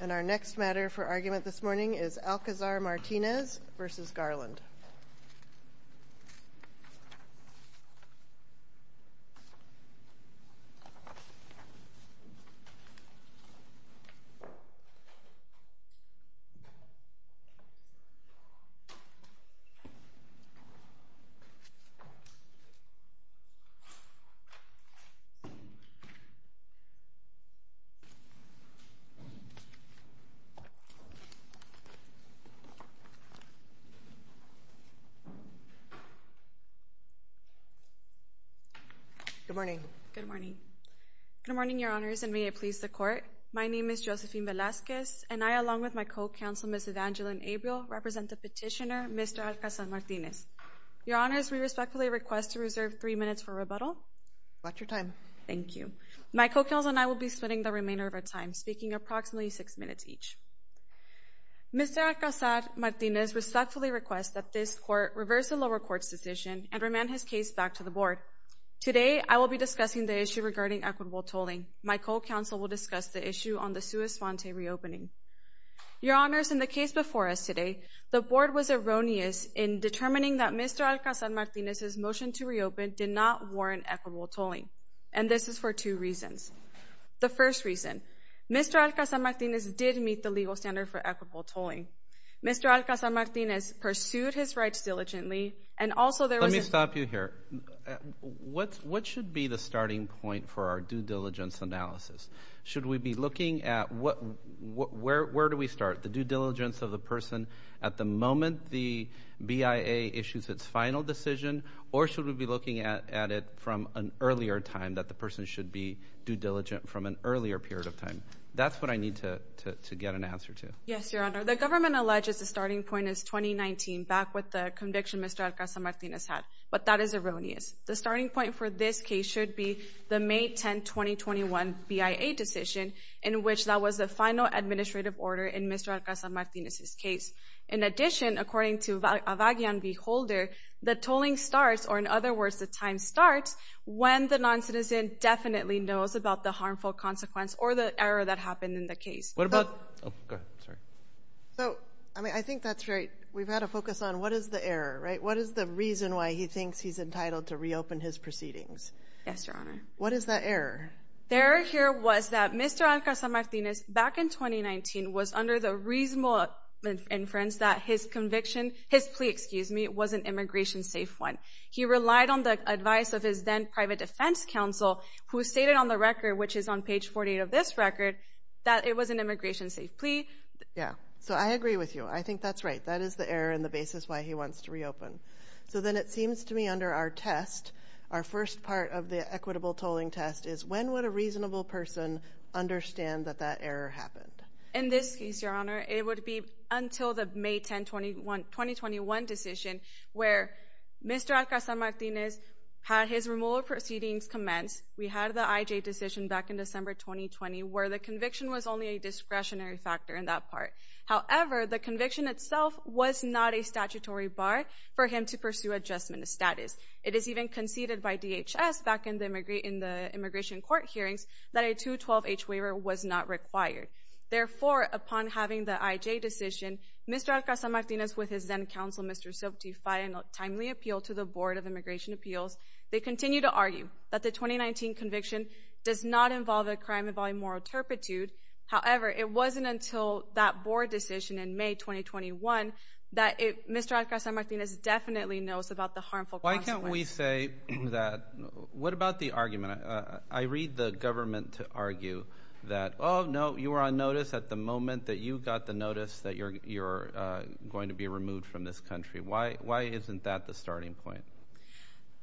And our next matter for argument this morning is Alcazar-Martinez v. Garland. Good morning, Your Honors, and may it please the Court. My name is Josephine Velazquez, and I, along with my co-counsel, Ms. Evangeline Abriel, represent the petitioner, Mr. Alcazar-Martinez. Your Honors, we respectfully request to reserve three minutes for rebuttal. Watch your time. Thank you. My co-counsel and I will be spending the remainder of our time speaking, approximately six minutes each. Mr. Alcazar-Martinez respectfully requests that this Court reverse the lower court's decision and remand his case back to the Board. Today I will be discussing the issue regarding equitable tolling. My co-counsel will discuss the issue on the Suez-Fonte reopening. Your Honors, in the case before us today, the Board was erroneous in determining that Mr. Alcazar-Martinez's motion to reopen did not warrant equitable tolling. And this is for two reasons. The first reason, Mr. Alcazar-Martinez did meet the legal standard for equitable tolling. Mr. Alcazar-Martinez pursued his rights diligently, and also there was a Let me stop you here. What should be the starting point for our due diligence analysis? Should we be looking at where do we start, the due diligence of the person at the moment the BIA issues its final decision, or should we be looking at it from an earlier time that the person should be due diligent from an earlier period of time? That's what I need to get an answer to. Yes, Your Honor. The government alleges the starting point is 2019, back with the conviction Mr. Alcazar-Martinez had. But that is erroneous. The starting point for this case should be the May 10, 2021 BIA decision in which that was the final administrative order in Mr. Alcazar-Martinez's case. In addition, according to Avagian V. Holder, the tolling starts, or in other words, the time starts when the non-citizen definitely knows about the harmful consequence or the error that happened in the case. What about... Oh, go ahead. Sorry. So, I mean, I think that's right. We've had a focus on what is the error, right? What is the reason why he thinks he's entitled to reopen his proceedings? Yes, Your Honor. What is that error? The error here was that Mr. Alcazar-Martinez, back in 2019, was under the reasonable inference that his conviction, his plea, excuse me, was an immigration-safe one. He relied on the advice of his then-private defense counsel, who stated on the record, which is on page 48 of this record, that it was an immigration-safe plea. Yeah. So I agree with you. I think that's right. That is the error and the basis why he wants to reopen. So then it seems to me under our test, our first part of the equitable tolling test is when would a reasonable person understand that that error happened? In this case, Your Honor, it would be until the May 10, 2021 decision, where Mr. Alcazar-Martinez had his removal proceedings commenced. We had the IJ decision back in December 2020, where the conviction was only a discretionary factor in that part. However, the conviction itself was not a statutory bar for him to pursue adjustment of status. It is even conceded by DHS back in the immigration court hearings that a 212-H waiver was not required. Therefore, upon having the IJ decision, Mr. Alcazar-Martinez with his then-counsel, Mr. Sobhati Faya, in a timely appeal to the Board of Immigration Appeals, they continue to argue that the 2019 conviction does not involve a crime involving moral turpitude. However, it wasn't until that board decision in May 2021 that Mr. Alcazar-Martinez definitely knows about the harmful consequences. Why can't we say that, what about the argument, I read the government to argue that, oh no, you were on notice at the moment that you got the notice that you're going to be removed from this country. Why isn't that the starting point?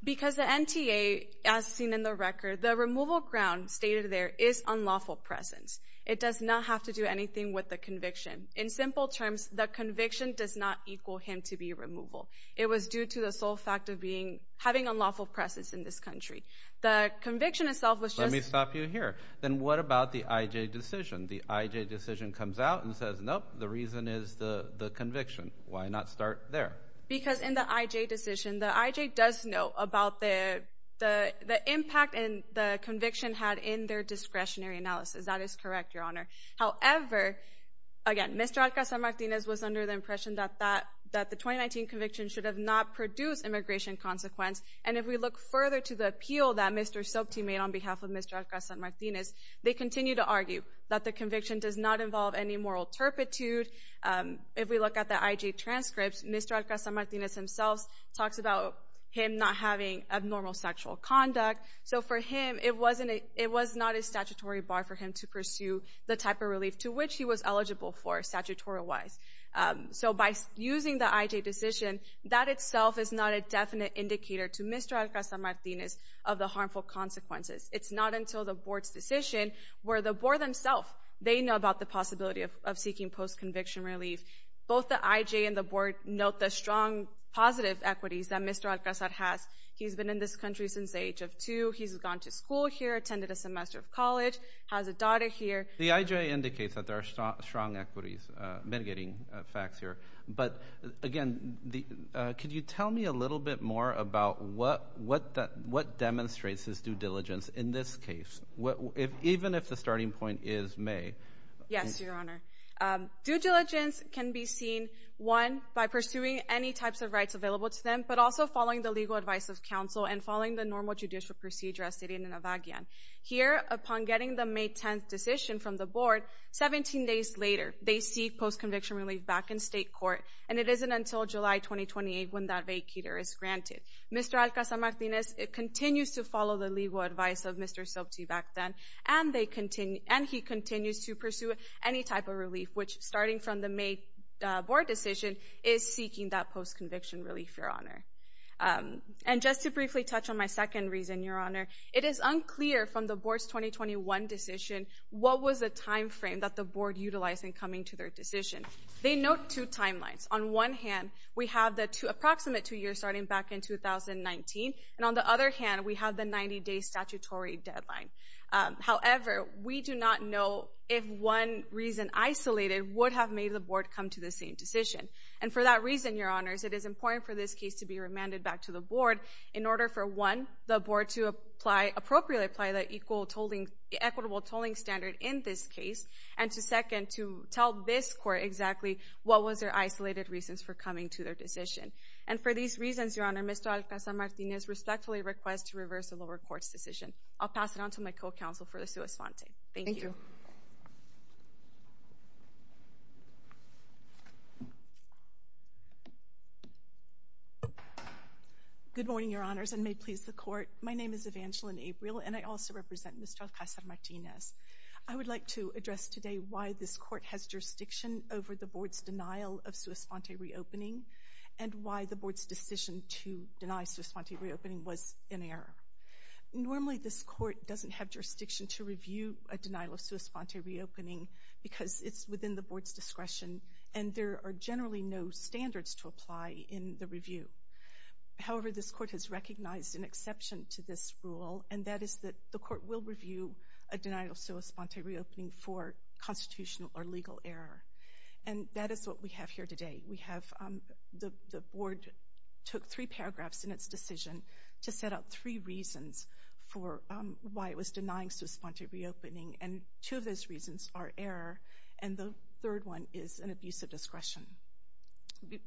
Because the NTA, as seen in the record, the removal ground stated there is unlawful presence. It does not have to do anything with the conviction. In simple terms, the conviction does not equal him to be removaled. It was due to the sole fact of being, having unlawful presence in this country. The conviction itself was just- Let me stop you here. Then what about the IJ decision? The IJ decision comes out and says, nope, the reason is the conviction. Why not start there? Because in the IJ decision, the IJ does know about the impact the conviction had in their discretionary analysis. That is correct, Your Honor. However, again, Mr. Ocasio-Martinez was under the impression that the 2019 conviction should have not produced immigration consequence. If we look further to the appeal that Mr. Soapty made on behalf of Mr. Ocasio-Martinez, they continue to argue that the conviction does not involve any moral turpitude. If we look at the IJ transcripts, Mr. Ocasio-Martinez himself talks about him not having abnormal sexual conduct. So for him, it was not a statutory bar for him to pursue the type of relief to which he was eligible for, statutory-wise. So by using the IJ decision, that itself is not a definite indicator to Mr. Ocasio-Martinez of the harmful consequences. It's not until the board's decision, where the board themselves, they know about the possibility of seeking post-conviction relief. Both the IJ and the board note the strong positive equities that Mr. Ocasio-Martinez has. He's been in this country since the age of two. He's gone to school here, attended a semester of college, has a daughter here. The IJ indicates that there are strong equities mitigating facts here. But again, could you tell me a little bit more about what demonstrates his due diligence in this case, even if the starting point is May? Yes, Your Honor. Due diligence can be seen, one, by pursuing any types of rights available to them, but also following the legal advice of counsel and following the normal judicial procedure as stated in Avagian. Here, upon getting the May 10th decision from the board, 17 days later, they seek post-conviction relief back in state court. And it isn't until July 2028 when that vacater is granted. Mr. Ocasio-Martinez continues to follow the legal advice of Mr. Sobti back then, and he continues to pursue any type of relief, which, starting from the May board decision, is seeking that post-conviction relief, Your Honor. And just to briefly touch on my second reason, Your Honor, it is unclear from the board's 2021 decision what was the time frame that the board utilized in coming to their decision. They note two timelines. On one hand, we have the approximate two years starting back in 2019, and on the other hand, we have the 90-day statutory deadline. However, we do not know if one reason isolated would have made the board come to the same decision. And for that reason, Your Honors, it is important for this case to be remanded back to the board in order for, one, the board to appropriately apply the equitable tolling standard in this case, and to, second, to tell this court exactly what was their isolated reasons for coming to their decision. And for these reasons, Your Honor, Mr. Ocasio-Martinez respectfully requests to reverse the lower court's decision. I'll pass it on to my co-counsel for the sua sponte. Thank you. Thank you. Good morning, Your Honors, and may it please the court. My name is Evangeline April, and I also represent Mr. Ocasio-Martinez. I would like to address today why this court has jurisdiction over the board's denial of sua sponte reopening, and why the board's decision to deny sua sponte reopening was in error. Normally, this court doesn't have jurisdiction to review a denial of sua sponte reopening because it's within the board's discretion, and there are generally no standards to apply in the review. However, this court has recognized an exception to this rule, and that is that the court will review a denial of sua sponte reopening for constitutional or legal error. And that is what we have here today. We have the board took three paragraphs in its decision to set out three reasons for why it was denying sua sponte reopening, and two of those reasons are error, and the third one is an abuse of discretion.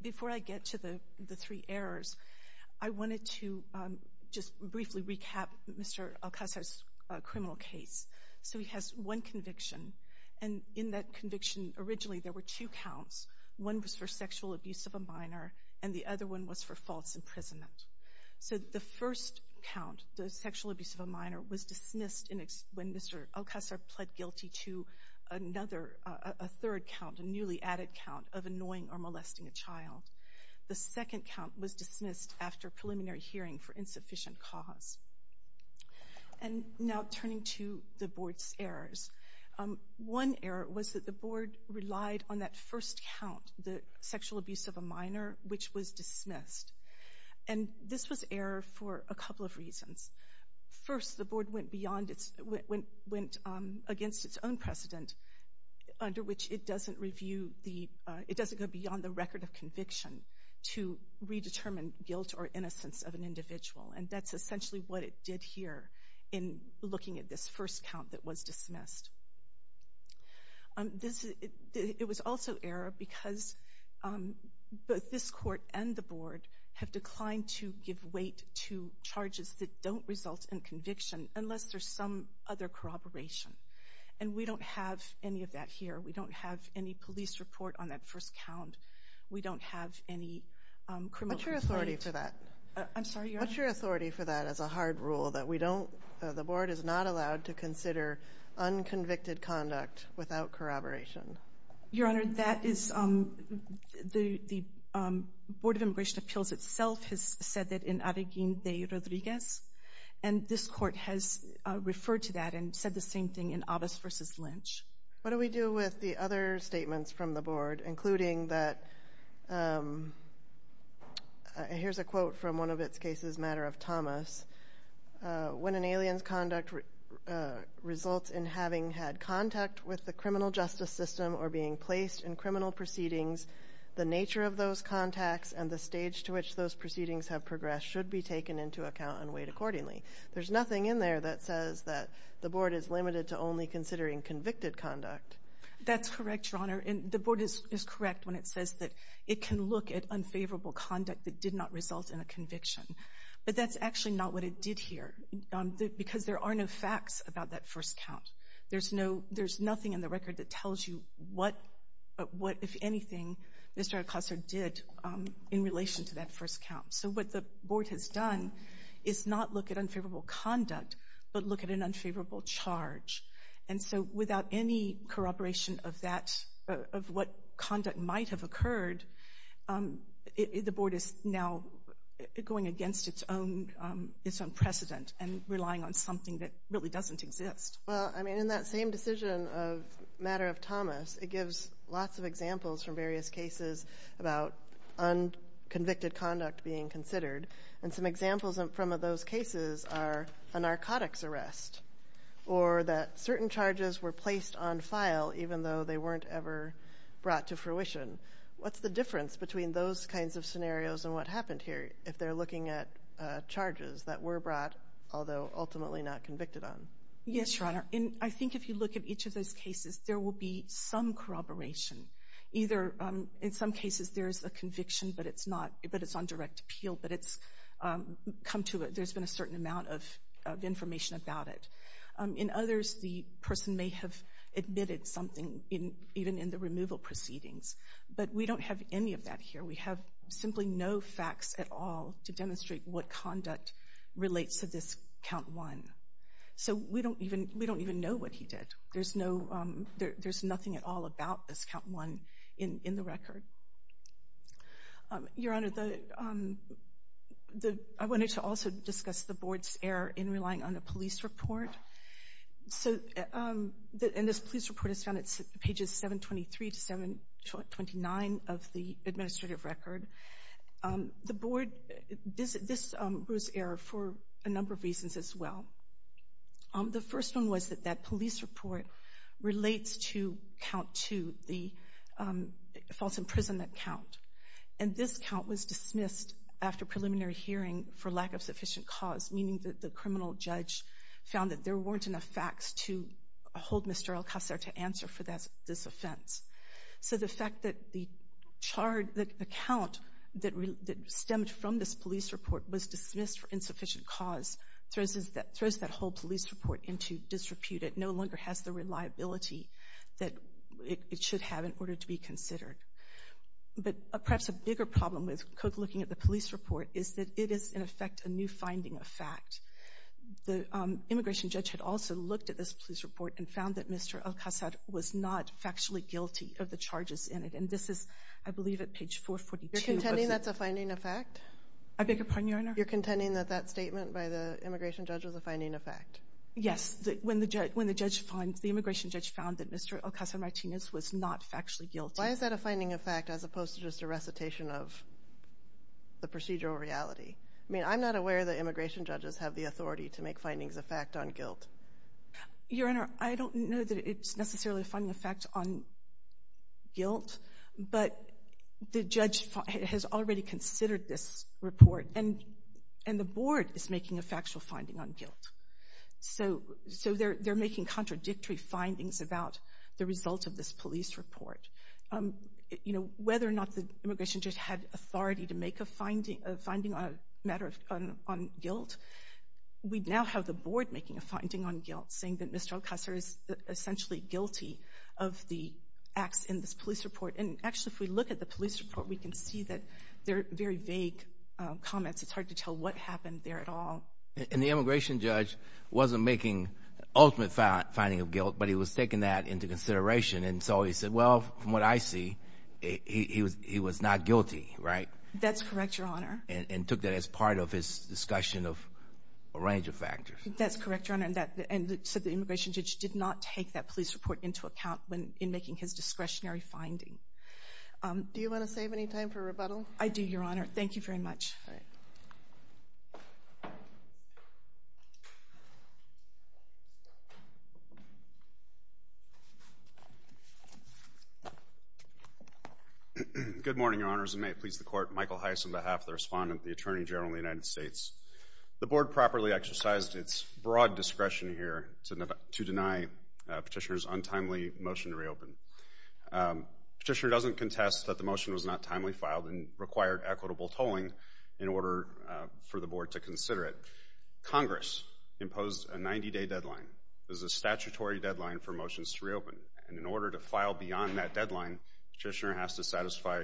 Before I get to the three errors, I wanted to just briefly recap Mr. Ocasio's criminal case. So he has one conviction, and in that conviction, originally, there were two counts. One was for sexual abuse of a minor, and the other one was for false imprisonment. So the first count, the sexual abuse of a minor, was dismissed when Mr. Ocasio pled guilty to another, a third count, a newly added count of annoying or molesting a child. The second count was dismissed after preliminary hearing for insufficient cause. And now turning to the board's errors, one error was that the board relied on that first count, the sexual abuse of a minor, which was dismissed. And this was error for a couple of reasons. First, the board went against its own precedent, under which it doesn't go beyond the record of conviction to redetermine guilt or innocence of an individual, and that's essentially what it did here in looking at this first count that was dismissed. It was also error because both this court and the board have declined to give weight to charges that don't result in conviction unless there's some other corroboration. And we don't have any of that here. We don't have any police report on that first count. We don't have any criminal complaint. What's your authority for that? I'm sorry, Your Honor? What's your authority for that as a hard rule, that we don't, the board is not allowed to convicted conduct without corroboration? Your Honor, that is, the Board of Immigration Appeals itself has said that in Arequín de Rodríguez, and this court has referred to that and said the same thing in Abbas v. Lynch. What do we do with the other statements from the board, including that, here's a quote from one of its cases, Matter of Thomas, when an alien's conduct results in having had contact with the criminal justice system or being placed in criminal proceedings, the nature of those contacts and the stage to which those proceedings have progressed should be taken into account and weighed accordingly. There's nothing in there that says that the board is limited to only considering convicted conduct. That's correct, Your Honor, and the board is correct when it says that it can look at conviction, but that's actually not what it did here, because there are no facts about that first count. There's nothing in the record that tells you what, if anything, Mr. Acosta did in relation to that first count. So what the board has done is not look at unfavorable conduct, but look at an unfavorable charge. And so without any corroboration of that, of what conduct might have occurred, the board is now going against its own precedent and relying on something that really doesn't exist. Well, I mean, in that same decision of Matter of Thomas, it gives lots of examples from various cases about unconvicted conduct being considered. And some examples from those cases are a narcotics arrest, or that certain charges were placed on file even though they weren't ever brought to fruition. What's the difference between those kinds of scenarios and what happened here, if they're looking at charges that were brought, although ultimately not convicted on? Yes, Your Honor. I think if you look at each of those cases, there will be some corroboration. Either in some cases there's a conviction, but it's on direct appeal, but it's come to it, there's been a certain amount of information about it. In others, the person may have admitted something even in the removal proceedings, but we don't have any of that here. We have simply no facts at all to demonstrate what conduct relates to this count one. So we don't even know what he did. There's nothing at all about this count one in the record. Your Honor, I wanted to also discuss the Board's error in relying on a police report. So, and this police report is found at pages 723 to 729 of the administrative record. The Board, this was error for a number of reasons as well. The first one was that that police report relates to count two, the false imprisonment count, and this count was dismissed after preliminary hearing for lack of sufficient cause, meaning that the criminal judge found that there weren't enough facts to hold Mr. Alcacer to answer for this offense. So the fact that the count that stemmed from this police report was dismissed for insufficient cause throws that whole police report into disrepute. It no longer has the reliability that it should have in order to be considered. But perhaps a bigger problem with Cook looking at the police report is that it is, in effect, a new finding of fact. The immigration judge had also looked at this police report and found that Mr. Alcacer was not factually guilty of the charges in it, and this is, I believe, at page 442. You're contending that's a finding of fact? I beg your pardon, Your Honor? You're contending that that statement by the immigration judge was a finding of fact? Yes. When the judge finds, the immigration judge found that Mr. Alcacer-Martinez was not factually guilty. Why is that a finding of fact as opposed to just a recitation of the procedural reality? I mean, I'm not aware that immigration judges have the authority to make findings of fact on guilt. Your Honor, I don't know that it's necessarily a finding of fact on guilt, but the judge has already considered this report, and the board is making a factual finding on guilt. So they're making contradictory findings about the result of this police report. Whether or not the immigration judge had authority to make a finding on guilt, we now have the board making a finding on guilt, saying that Mr. Alcacer is essentially guilty of the acts in this police report. And actually, if we look at the police report, we can see that they're very vague comments. It's hard to tell what happened there at all. And the immigration judge wasn't making an ultimate finding of guilt, but he was taking that into consideration. And so he said, well, from what I see, he was not guilty, right? That's correct, Your Honor. And took that as part of his discussion of a range of factors. That's correct, Your Honor. And so the immigration judge did not take that police report into account in making his discretionary finding. Do you want to save any time for rebuttal? I do, Your Honor. Thank you very much. All right. Good morning, Your Honors. And may it please the Court, Michael Heiss on behalf of the Respondent, the Attorney-General of the United States. The board properly exercised its broad discretion here to deny Petitioner's untimely motion to reopen. Petitioner doesn't contest that the motion was not timely filed and required equitable tolling in order for the board to consider it. Congress imposed a 90-day deadline. It was a statutory deadline for motions to reopen. And in order to file beyond that deadline, Petitioner has to satisfy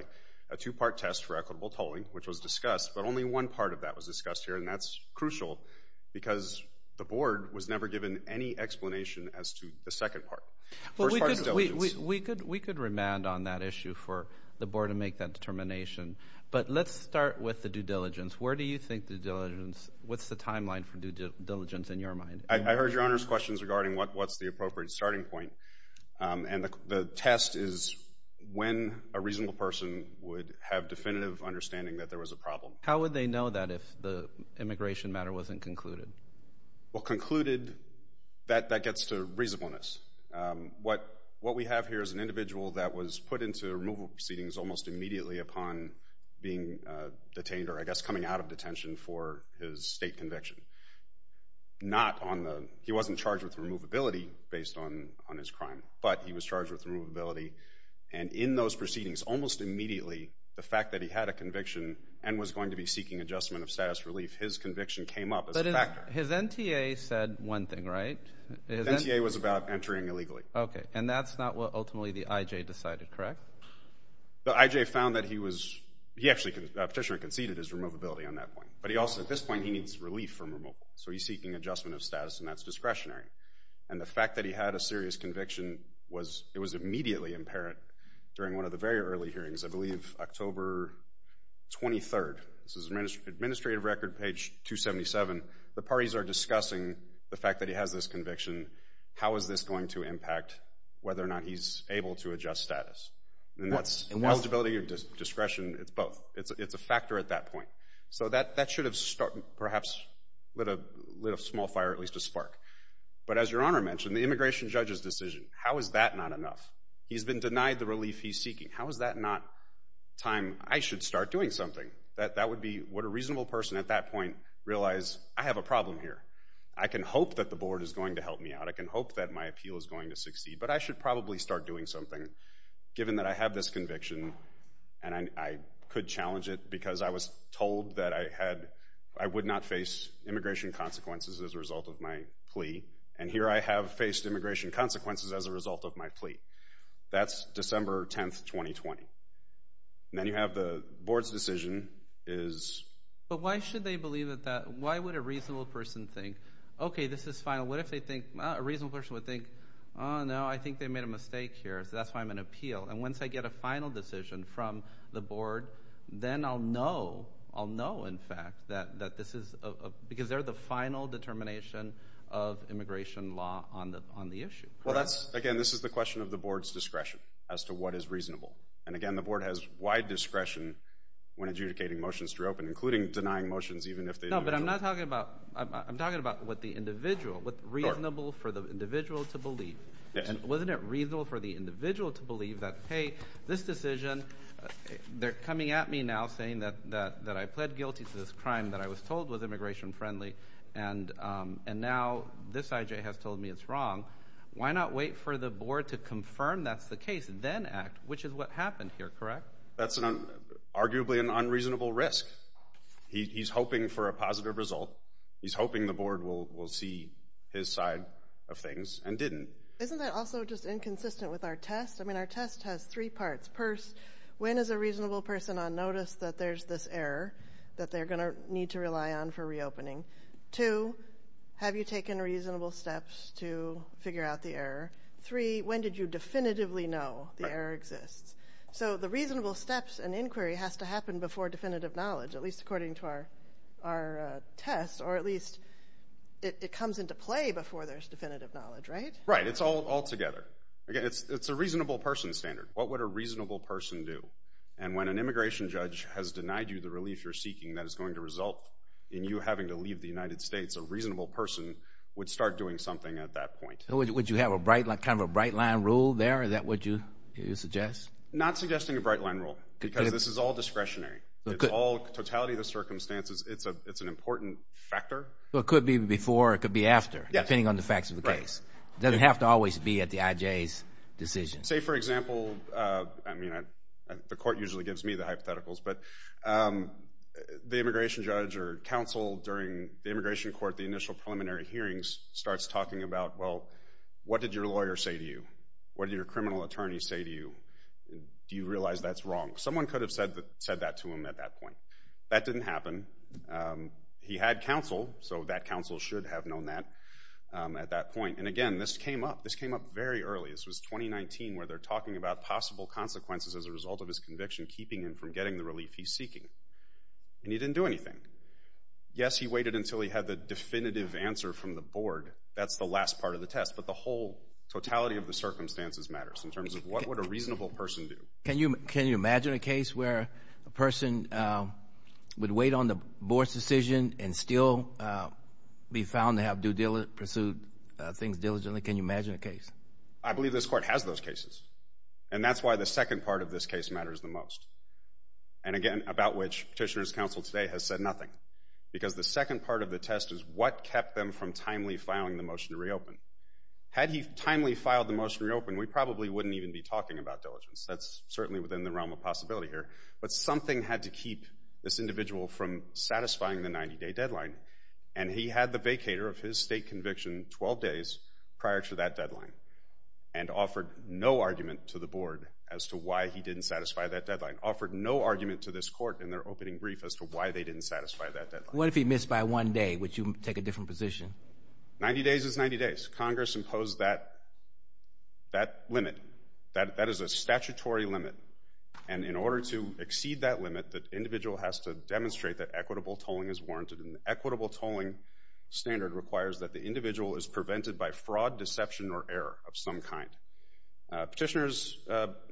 a two-part test for equitable tolling, which was discussed, but only one part of that was discussed here, and that's crucial because the board was never given any explanation as to the second part. Well, we could remand on that issue for the board to make that determination. But let's start with the due diligence. Where do you think the due diligence, what's the timeline for due diligence in your mind? I heard Your Honor's questions regarding what's the appropriate starting point. And the test is when a reasonable person would have definitive understanding that there was a problem. How would they know that if the immigration matter wasn't concluded? Well, concluded, that gets to reasonableness. What we have here is an individual that was put into removal proceedings almost immediately upon being detained, or I guess coming out of detention for his state conviction. Not on the, he wasn't charged with removability based on his crime, but he was charged with removability. And in those proceedings, almost immediately, the fact that he had a conviction and was going to be seeking adjustment of status relief, his conviction came up as a factor. But his NTA said one thing, right? His NTA was about entering illegally. Okay. And that's not what ultimately the IJ decided, correct? The IJ found that he was, he actually, Petitioner conceded his removability on that point. But he also, at this point, he needs relief from removal. So he's seeking adjustment of status, and that's discretionary. And the fact that he had a serious conviction was, it was immediately apparent during one of the very early hearings, I believe October 23rd, this is administrative record page 277, the parties are discussing the fact that he has this conviction. How is this going to impact whether or not he's able to adjust status? And that's eligibility or discretion, it's both. It's a factor at that point. So that should have perhaps lit a small fire, at least a spark. But as Your Honor mentioned, the immigration judge's decision, how is that not enough? He's been denied the relief he's seeking. How is that not time I should start doing something? That would be what a reasonable person at that point realized, I have a problem here. I can hope that the board is going to help me out. I can hope that my appeal is going to succeed. But I should probably start doing something, given that I have this conviction, and I could challenge it because I was told that I had, I would not face immigration consequences as a result of my plea. And here I have faced immigration consequences as a result of my plea. That's December 10th, 2020. And then you have the board's decision is... But why should they believe that? Why would a reasonable person think, okay, this is final. What if they think, a reasonable person would think, oh no, I think they made a mistake here, so that's why I'm going to appeal. And once I get a final decision from the board, then I'll know, I'll know in fact that this is, because they're the final determination of immigration law on the issue. Well, that's, again, this is the question of the board's discretion as to what is reasonable. And again, the board has wide discretion when adjudicating motions to reopen, including denying motions even if they... No, but I'm not talking about, I'm talking about what the individual, what's reasonable for the individual to believe. And wasn't it reasonable for the individual to believe that, hey, this decision, they're said guilty to this crime that I was told was immigration friendly. And now this I.J. has told me it's wrong. Why not wait for the board to confirm that's the case, then act, which is what happened here, correct? That's arguably an unreasonable risk. He's hoping for a positive result. He's hoping the board will see his side of things and didn't. Isn't that also just inconsistent with our test? I mean, our test has three parts. First, when is a reasonable person on notice that there's this error that they're going to need to rely on for reopening? Two, have you taken reasonable steps to figure out the error? Three, when did you definitively know the error exists? So the reasonable steps and inquiry has to happen before definitive knowledge, at least according to our test, or at least it comes into play before there's definitive knowledge, right? Right. It's all together. Again, it's a reasonable person standard. What would a reasonable person do? And when an immigration judge has denied you the relief you're seeking that is going to result in you having to leave the United States, a reasonable person would start doing something at that point. Would you have a bright, kind of a bright-line rule there, is that what you suggest? Not suggesting a bright-line rule, because this is all discretionary. It's all totality of the circumstances. It's an important factor. Well, it could be before, it could be after, depending on the facts of the case. Right. It doesn't have to always be at the IJ's decision. Say, for example, I mean, the court usually gives me the hypotheticals, but the immigration judge or counsel during the immigration court, the initial preliminary hearings, starts talking about, well, what did your lawyer say to you? What did your criminal attorney say to you? Do you realize that's wrong? Someone could have said that to him at that point. That didn't happen. He had counsel, so that counsel should have known that at that point. And again, this came up. This came up very early. This was 2019, where they're talking about possible consequences as a result of his conviction keeping him from getting the relief he's seeking, and he didn't do anything. Yes, he waited until he had the definitive answer from the board. That's the last part of the test, but the whole totality of the circumstances matters in terms of what would a reasonable person do. Can you imagine a case where a person would wait on the board's decision and still be found to have pursued things diligently? Can you imagine a case? I believe this court has those cases, and that's why the second part of this case matters the most, and again, about which Petitioner's counsel today has said nothing, because the second part of the test is what kept them from timely filing the motion to reopen. Had he timely filed the motion to reopen, we probably wouldn't even be talking about diligence. That's certainly within the realm of possibility here, but something had to keep this individual from satisfying the 90-day deadline, and he had the vacator of his state conviction 12 days prior to that deadline, and offered no argument to the board as to why he didn't satisfy that deadline, offered no argument to this court in their opening brief as to why they didn't satisfy that deadline. What if he missed by one day? Would you take a different position? 90 days is 90 days. Congress imposed that limit. That is a statutory limit, and in order to exceed that limit, the individual has to demonstrate that equitable tolling is warranted, and an equitable tolling standard requires that the motion be prevented by fraud, deception, or error of some kind. Petitioner's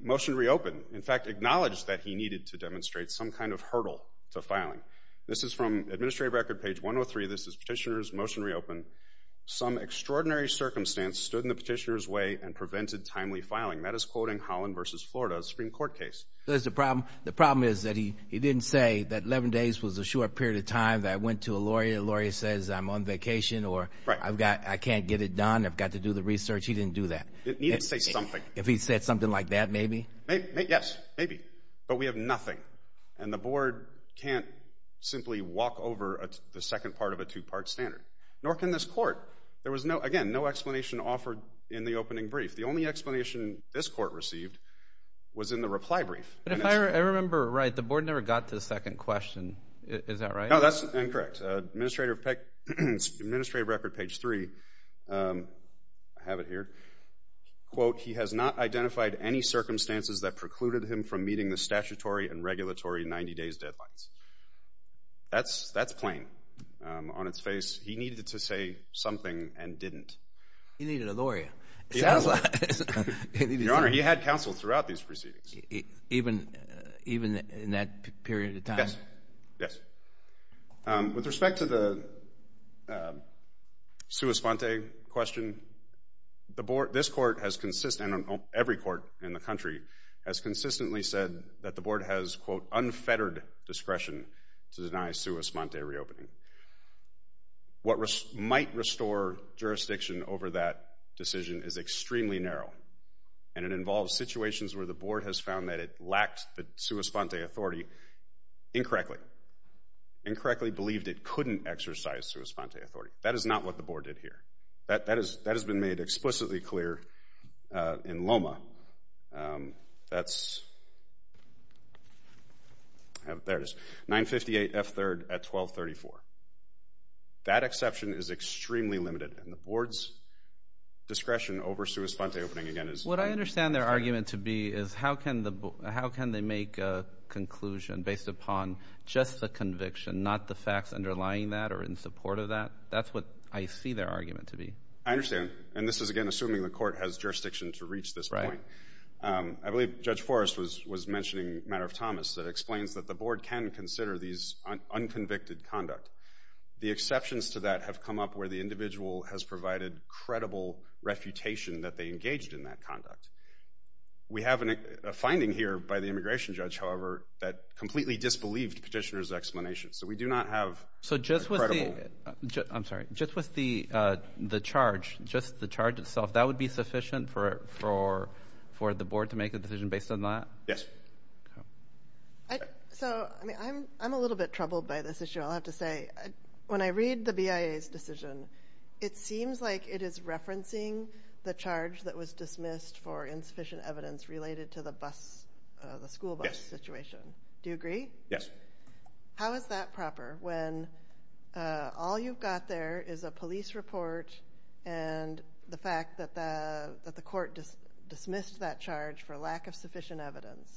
motion to reopen, in fact, acknowledged that he needed to demonstrate some kind of hurdle to filing. This is from Administrative Record, page 103. This is Petitioner's motion to reopen. Some extraordinary circumstance stood in the Petitioner's way and prevented timely filing. That is quoting Holland v. Florida, a Supreme Court case. The problem is that he didn't say that 11 days was a short period of time that I went to a lawyer. If a lawyer says, I'm on vacation, or I can't get it done, I've got to do the research, he didn't do that. He didn't say something. If he said something like that, maybe. Yes, maybe, but we have nothing, and the board can't simply walk over the second part of a two-part standard, nor can this court. There was, again, no explanation offered in the opening brief. The only explanation this court received was in the reply brief. If I remember right, the board never got to the second question. Is that right? No, that's incorrect. Administrative Record, page 3, I have it here, quote, he has not identified any circumstances that precluded him from meeting the statutory and regulatory 90-days deadlines. That's plain on its face. He needed to say something and didn't. He needed a lawyer. He has a lawyer. Your Honor, he had counsel throughout these proceedings. Even in that period of time? Yes. Yes. With respect to the sua sponte question, the board, this court has consistently, every court in the country, has consistently said that the board has, quote, unfettered discretion to deny sua sponte reopening. What might restore jurisdiction over that decision is extremely narrow, and it involves situations where the board has found that it lacked the sua sponte authority incorrectly, incorrectly believed it couldn't exercise sua sponte authority. That is not what the board did here. That has been made explicitly clear in Loma. That's, there it is, 958 F. 3rd at 1234. That exception is extremely limited, and the board's discretion over sua sponte opening again is What I understand their argument to be is how can they make a conclusion based upon just the conviction, not the facts underlying that or in support of that? That's what I see their argument to be. I understand. And this is, again, assuming the court has jurisdiction to reach this point. Right. I believe Judge Forrest was mentioning a matter of Thomas that explains that the board can consider these unconvicted conduct. The exceptions to that have come up where the individual has provided credible refutation that they engaged in that conduct. We have a finding here by the immigration judge, however, that completely disbelieved petitioner's explanation. So, we do not have a credible So, just with the, I'm sorry, just with the charge, just the charge itself, that would be sufficient for the board to make a decision based on that? Yes. So, I mean, I'm a little bit troubled by this issue, I'll have to say. When I read the BIA's decision, it seems like it is referencing the charge that was dismissed for insufficient evidence related to the bus, the school bus situation. Yes. Do you agree? Yes. How is that proper? When all you've got there is a police report and the fact that the court dismissed that charge for lack of sufficient evidence?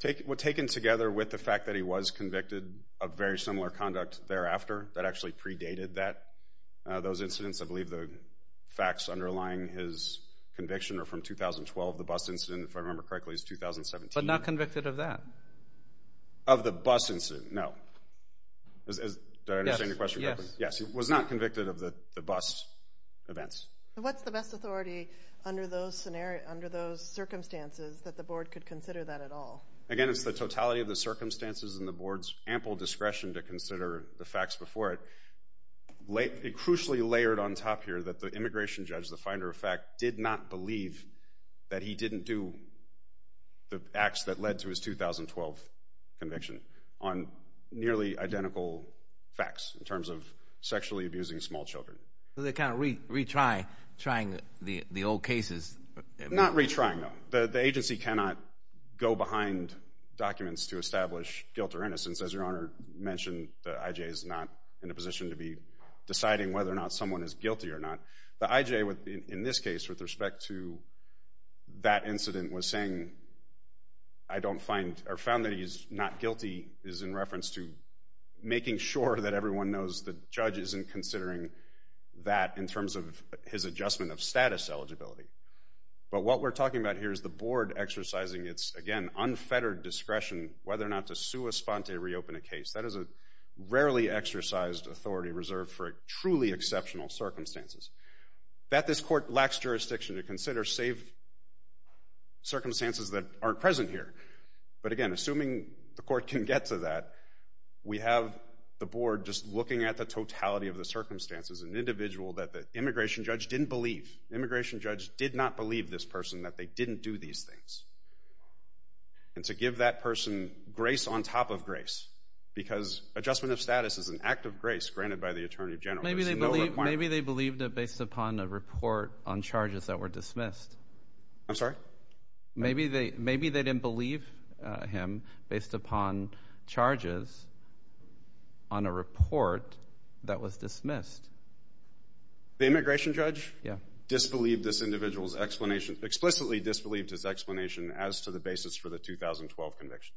Taken together with the fact that he was convicted of very similar conduct thereafter that actually predated that, those incidents, I believe the facts underlying his conviction are from 2012. The bus incident, if I remember correctly, is 2017. But not convicted of that? Of the bus incident? No. Do I understand your question? Yes. Yes. Yes. He was not convicted of the bus events. What's the best authority under those circumstances that the board could consider that at all? Again, it's the totality of the circumstances and the board's ample discretion to consider the facts before it. It crucially layered on top here that the immigration judge, the finder of fact, did not believe that he didn't do the acts that led to his 2012 conviction on nearly identical facts in terms of sexually abusing small children. So they're kind of retrying the old cases? Not retrying them. The agency cannot go behind documents to establish guilt or innocence. As Your Honor mentioned, the IJ is not in a position to be deciding whether or not someone is guilty or not. The IJ, in this case, with respect to that incident, was saying, I don't find, or found that he's not guilty is in reference to making sure that everyone knows the judge isn't considering that in terms of his adjustment of status eligibility. But what we're talking about here is the board exercising its, again, unfettered discretion whether or not to sua sponte reopen a case. That is a rarely exercised authority reserved for truly exceptional circumstances. That this court lacks jurisdiction to consider, save circumstances that aren't present here. But again, assuming the court can get to that, we have the board just looking at the totality of the circumstances. As an individual that the immigration judge didn't believe, the immigration judge did not believe this person, that they didn't do these things. And to give that person grace on top of grace, because adjustment of status is an act of grace granted by the Attorney General, there's no requirement. Maybe they believed it based upon a report on charges that were dismissed. I'm sorry? Maybe they didn't believe him based upon charges on a report that was dismissed. The immigration judge disbelieved this individual's explanation, explicitly disbelieved his explanation as to the basis for the 2012 conviction.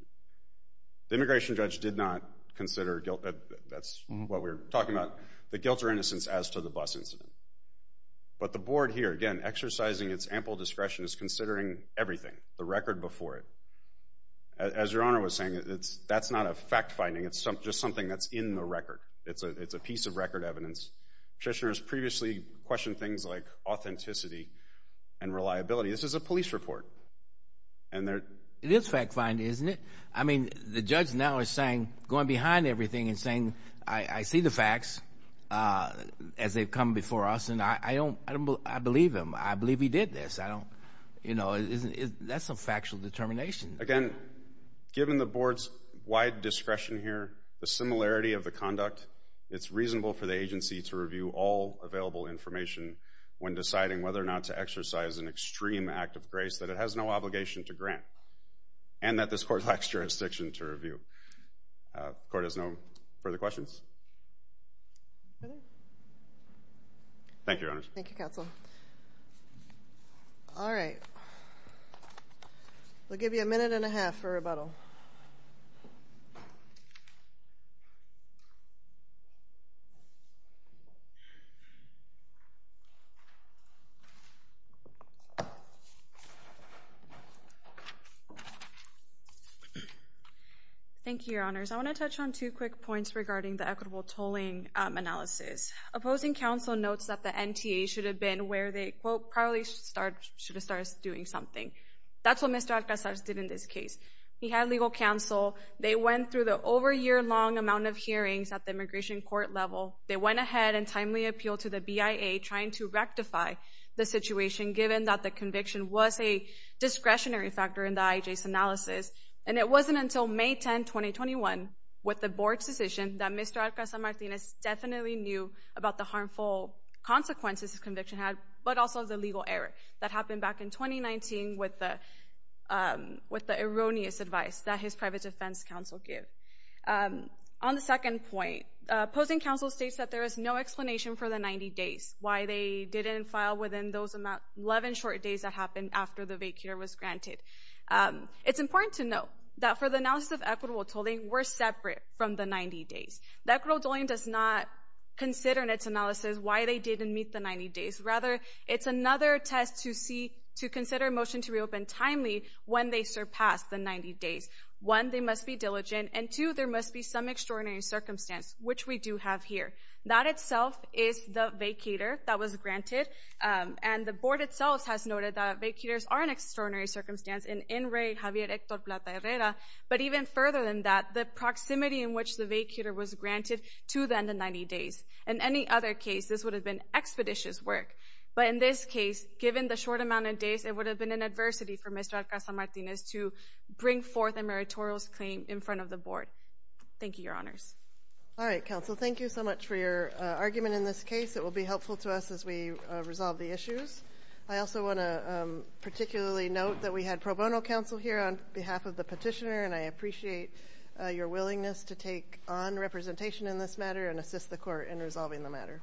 The immigration judge did not consider guilt, that's what we're talking about, the guilt or innocence as to the bus incident. But the board here, again, exercising its ample discretion is considering everything, the record before it. As Your Honor was saying, that's not a fact-finding, it's just something that's in the record. It's a piece of record evidence. Trishner has previously questioned things like authenticity and reliability. This is a police report. And there... It is fact-finding, isn't it? I mean, the judge now is saying, going behind everything and saying, I see the facts as they've come before us, and I believe him, I believe he did this, I don't, you know, that's a factual determination. Again, given the board's wide discretion here, the similarity of the conduct, it's reasonable for the agency to review all available information when deciding whether or not to exercise an extreme act of grace that it has no obligation to grant, and that this court lacks jurisdiction to review. The court has no further questions. Thank you, Your Honors. Thank you, Counsel. All right. We'll give you a minute and a half for rebuttal. Thank you, Your Honors. I want to touch on two quick points regarding the equitable tolling analysis. Opposing counsel notes that the NTA should have been where they, quote, probably should have started doing something. That's what Mr. Alcazar did in this case. He had legal counsel. They went through the over-year-long amount of hearings at the immigration court level. They went ahead and timely appealed to the BIA, trying to rectify the situation, given that the conviction was a discretionary factor in the IJ's analysis. And it wasn't until May 10, 2021, with the board's decision, that Mr. Alcazar Martinez definitely knew about the harmful consequences his conviction had, but also the legal error that happened back in 2019 with the erroneous advice that his private defense counsel gave. On the second point, opposing counsel states that there is no explanation for the 90 days, why they didn't file within those 11 short days that happened after the vacuum was granted. It's important to note that for the analysis of equitable tolling, we're separate from the 90 days. The equitable tolling does not consider in its analysis why they didn't meet the 90 days. Rather, it's another test to see, to consider a motion to reopen timely when they surpass the 90 days. One, they must be diligent, and two, there must be some extraordinary circumstance, which we do have here. That itself is the vacator that was granted, and the board itself has noted that vacators are an extraordinary circumstance in Enray Javier Hector Plata Herrera, but even further than that, the proximity in which the vacator was granted to the end of 90 days. In any other case, this would have been expeditious work, but in this case, given the short amount of days, it would have been an adversity for Mr. Alcazar Martinez to bring forth a meritorious claim in front of the board. Thank you, your honors. All right, counsel, thank you so much for your argument in this case. It will be helpful to us as we resolve the issues. I also want to particularly note that we had pro bono counsel here on behalf of the petitioner, and I appreciate your willingness to take on representation in this matter and assist the court in resolving the matter.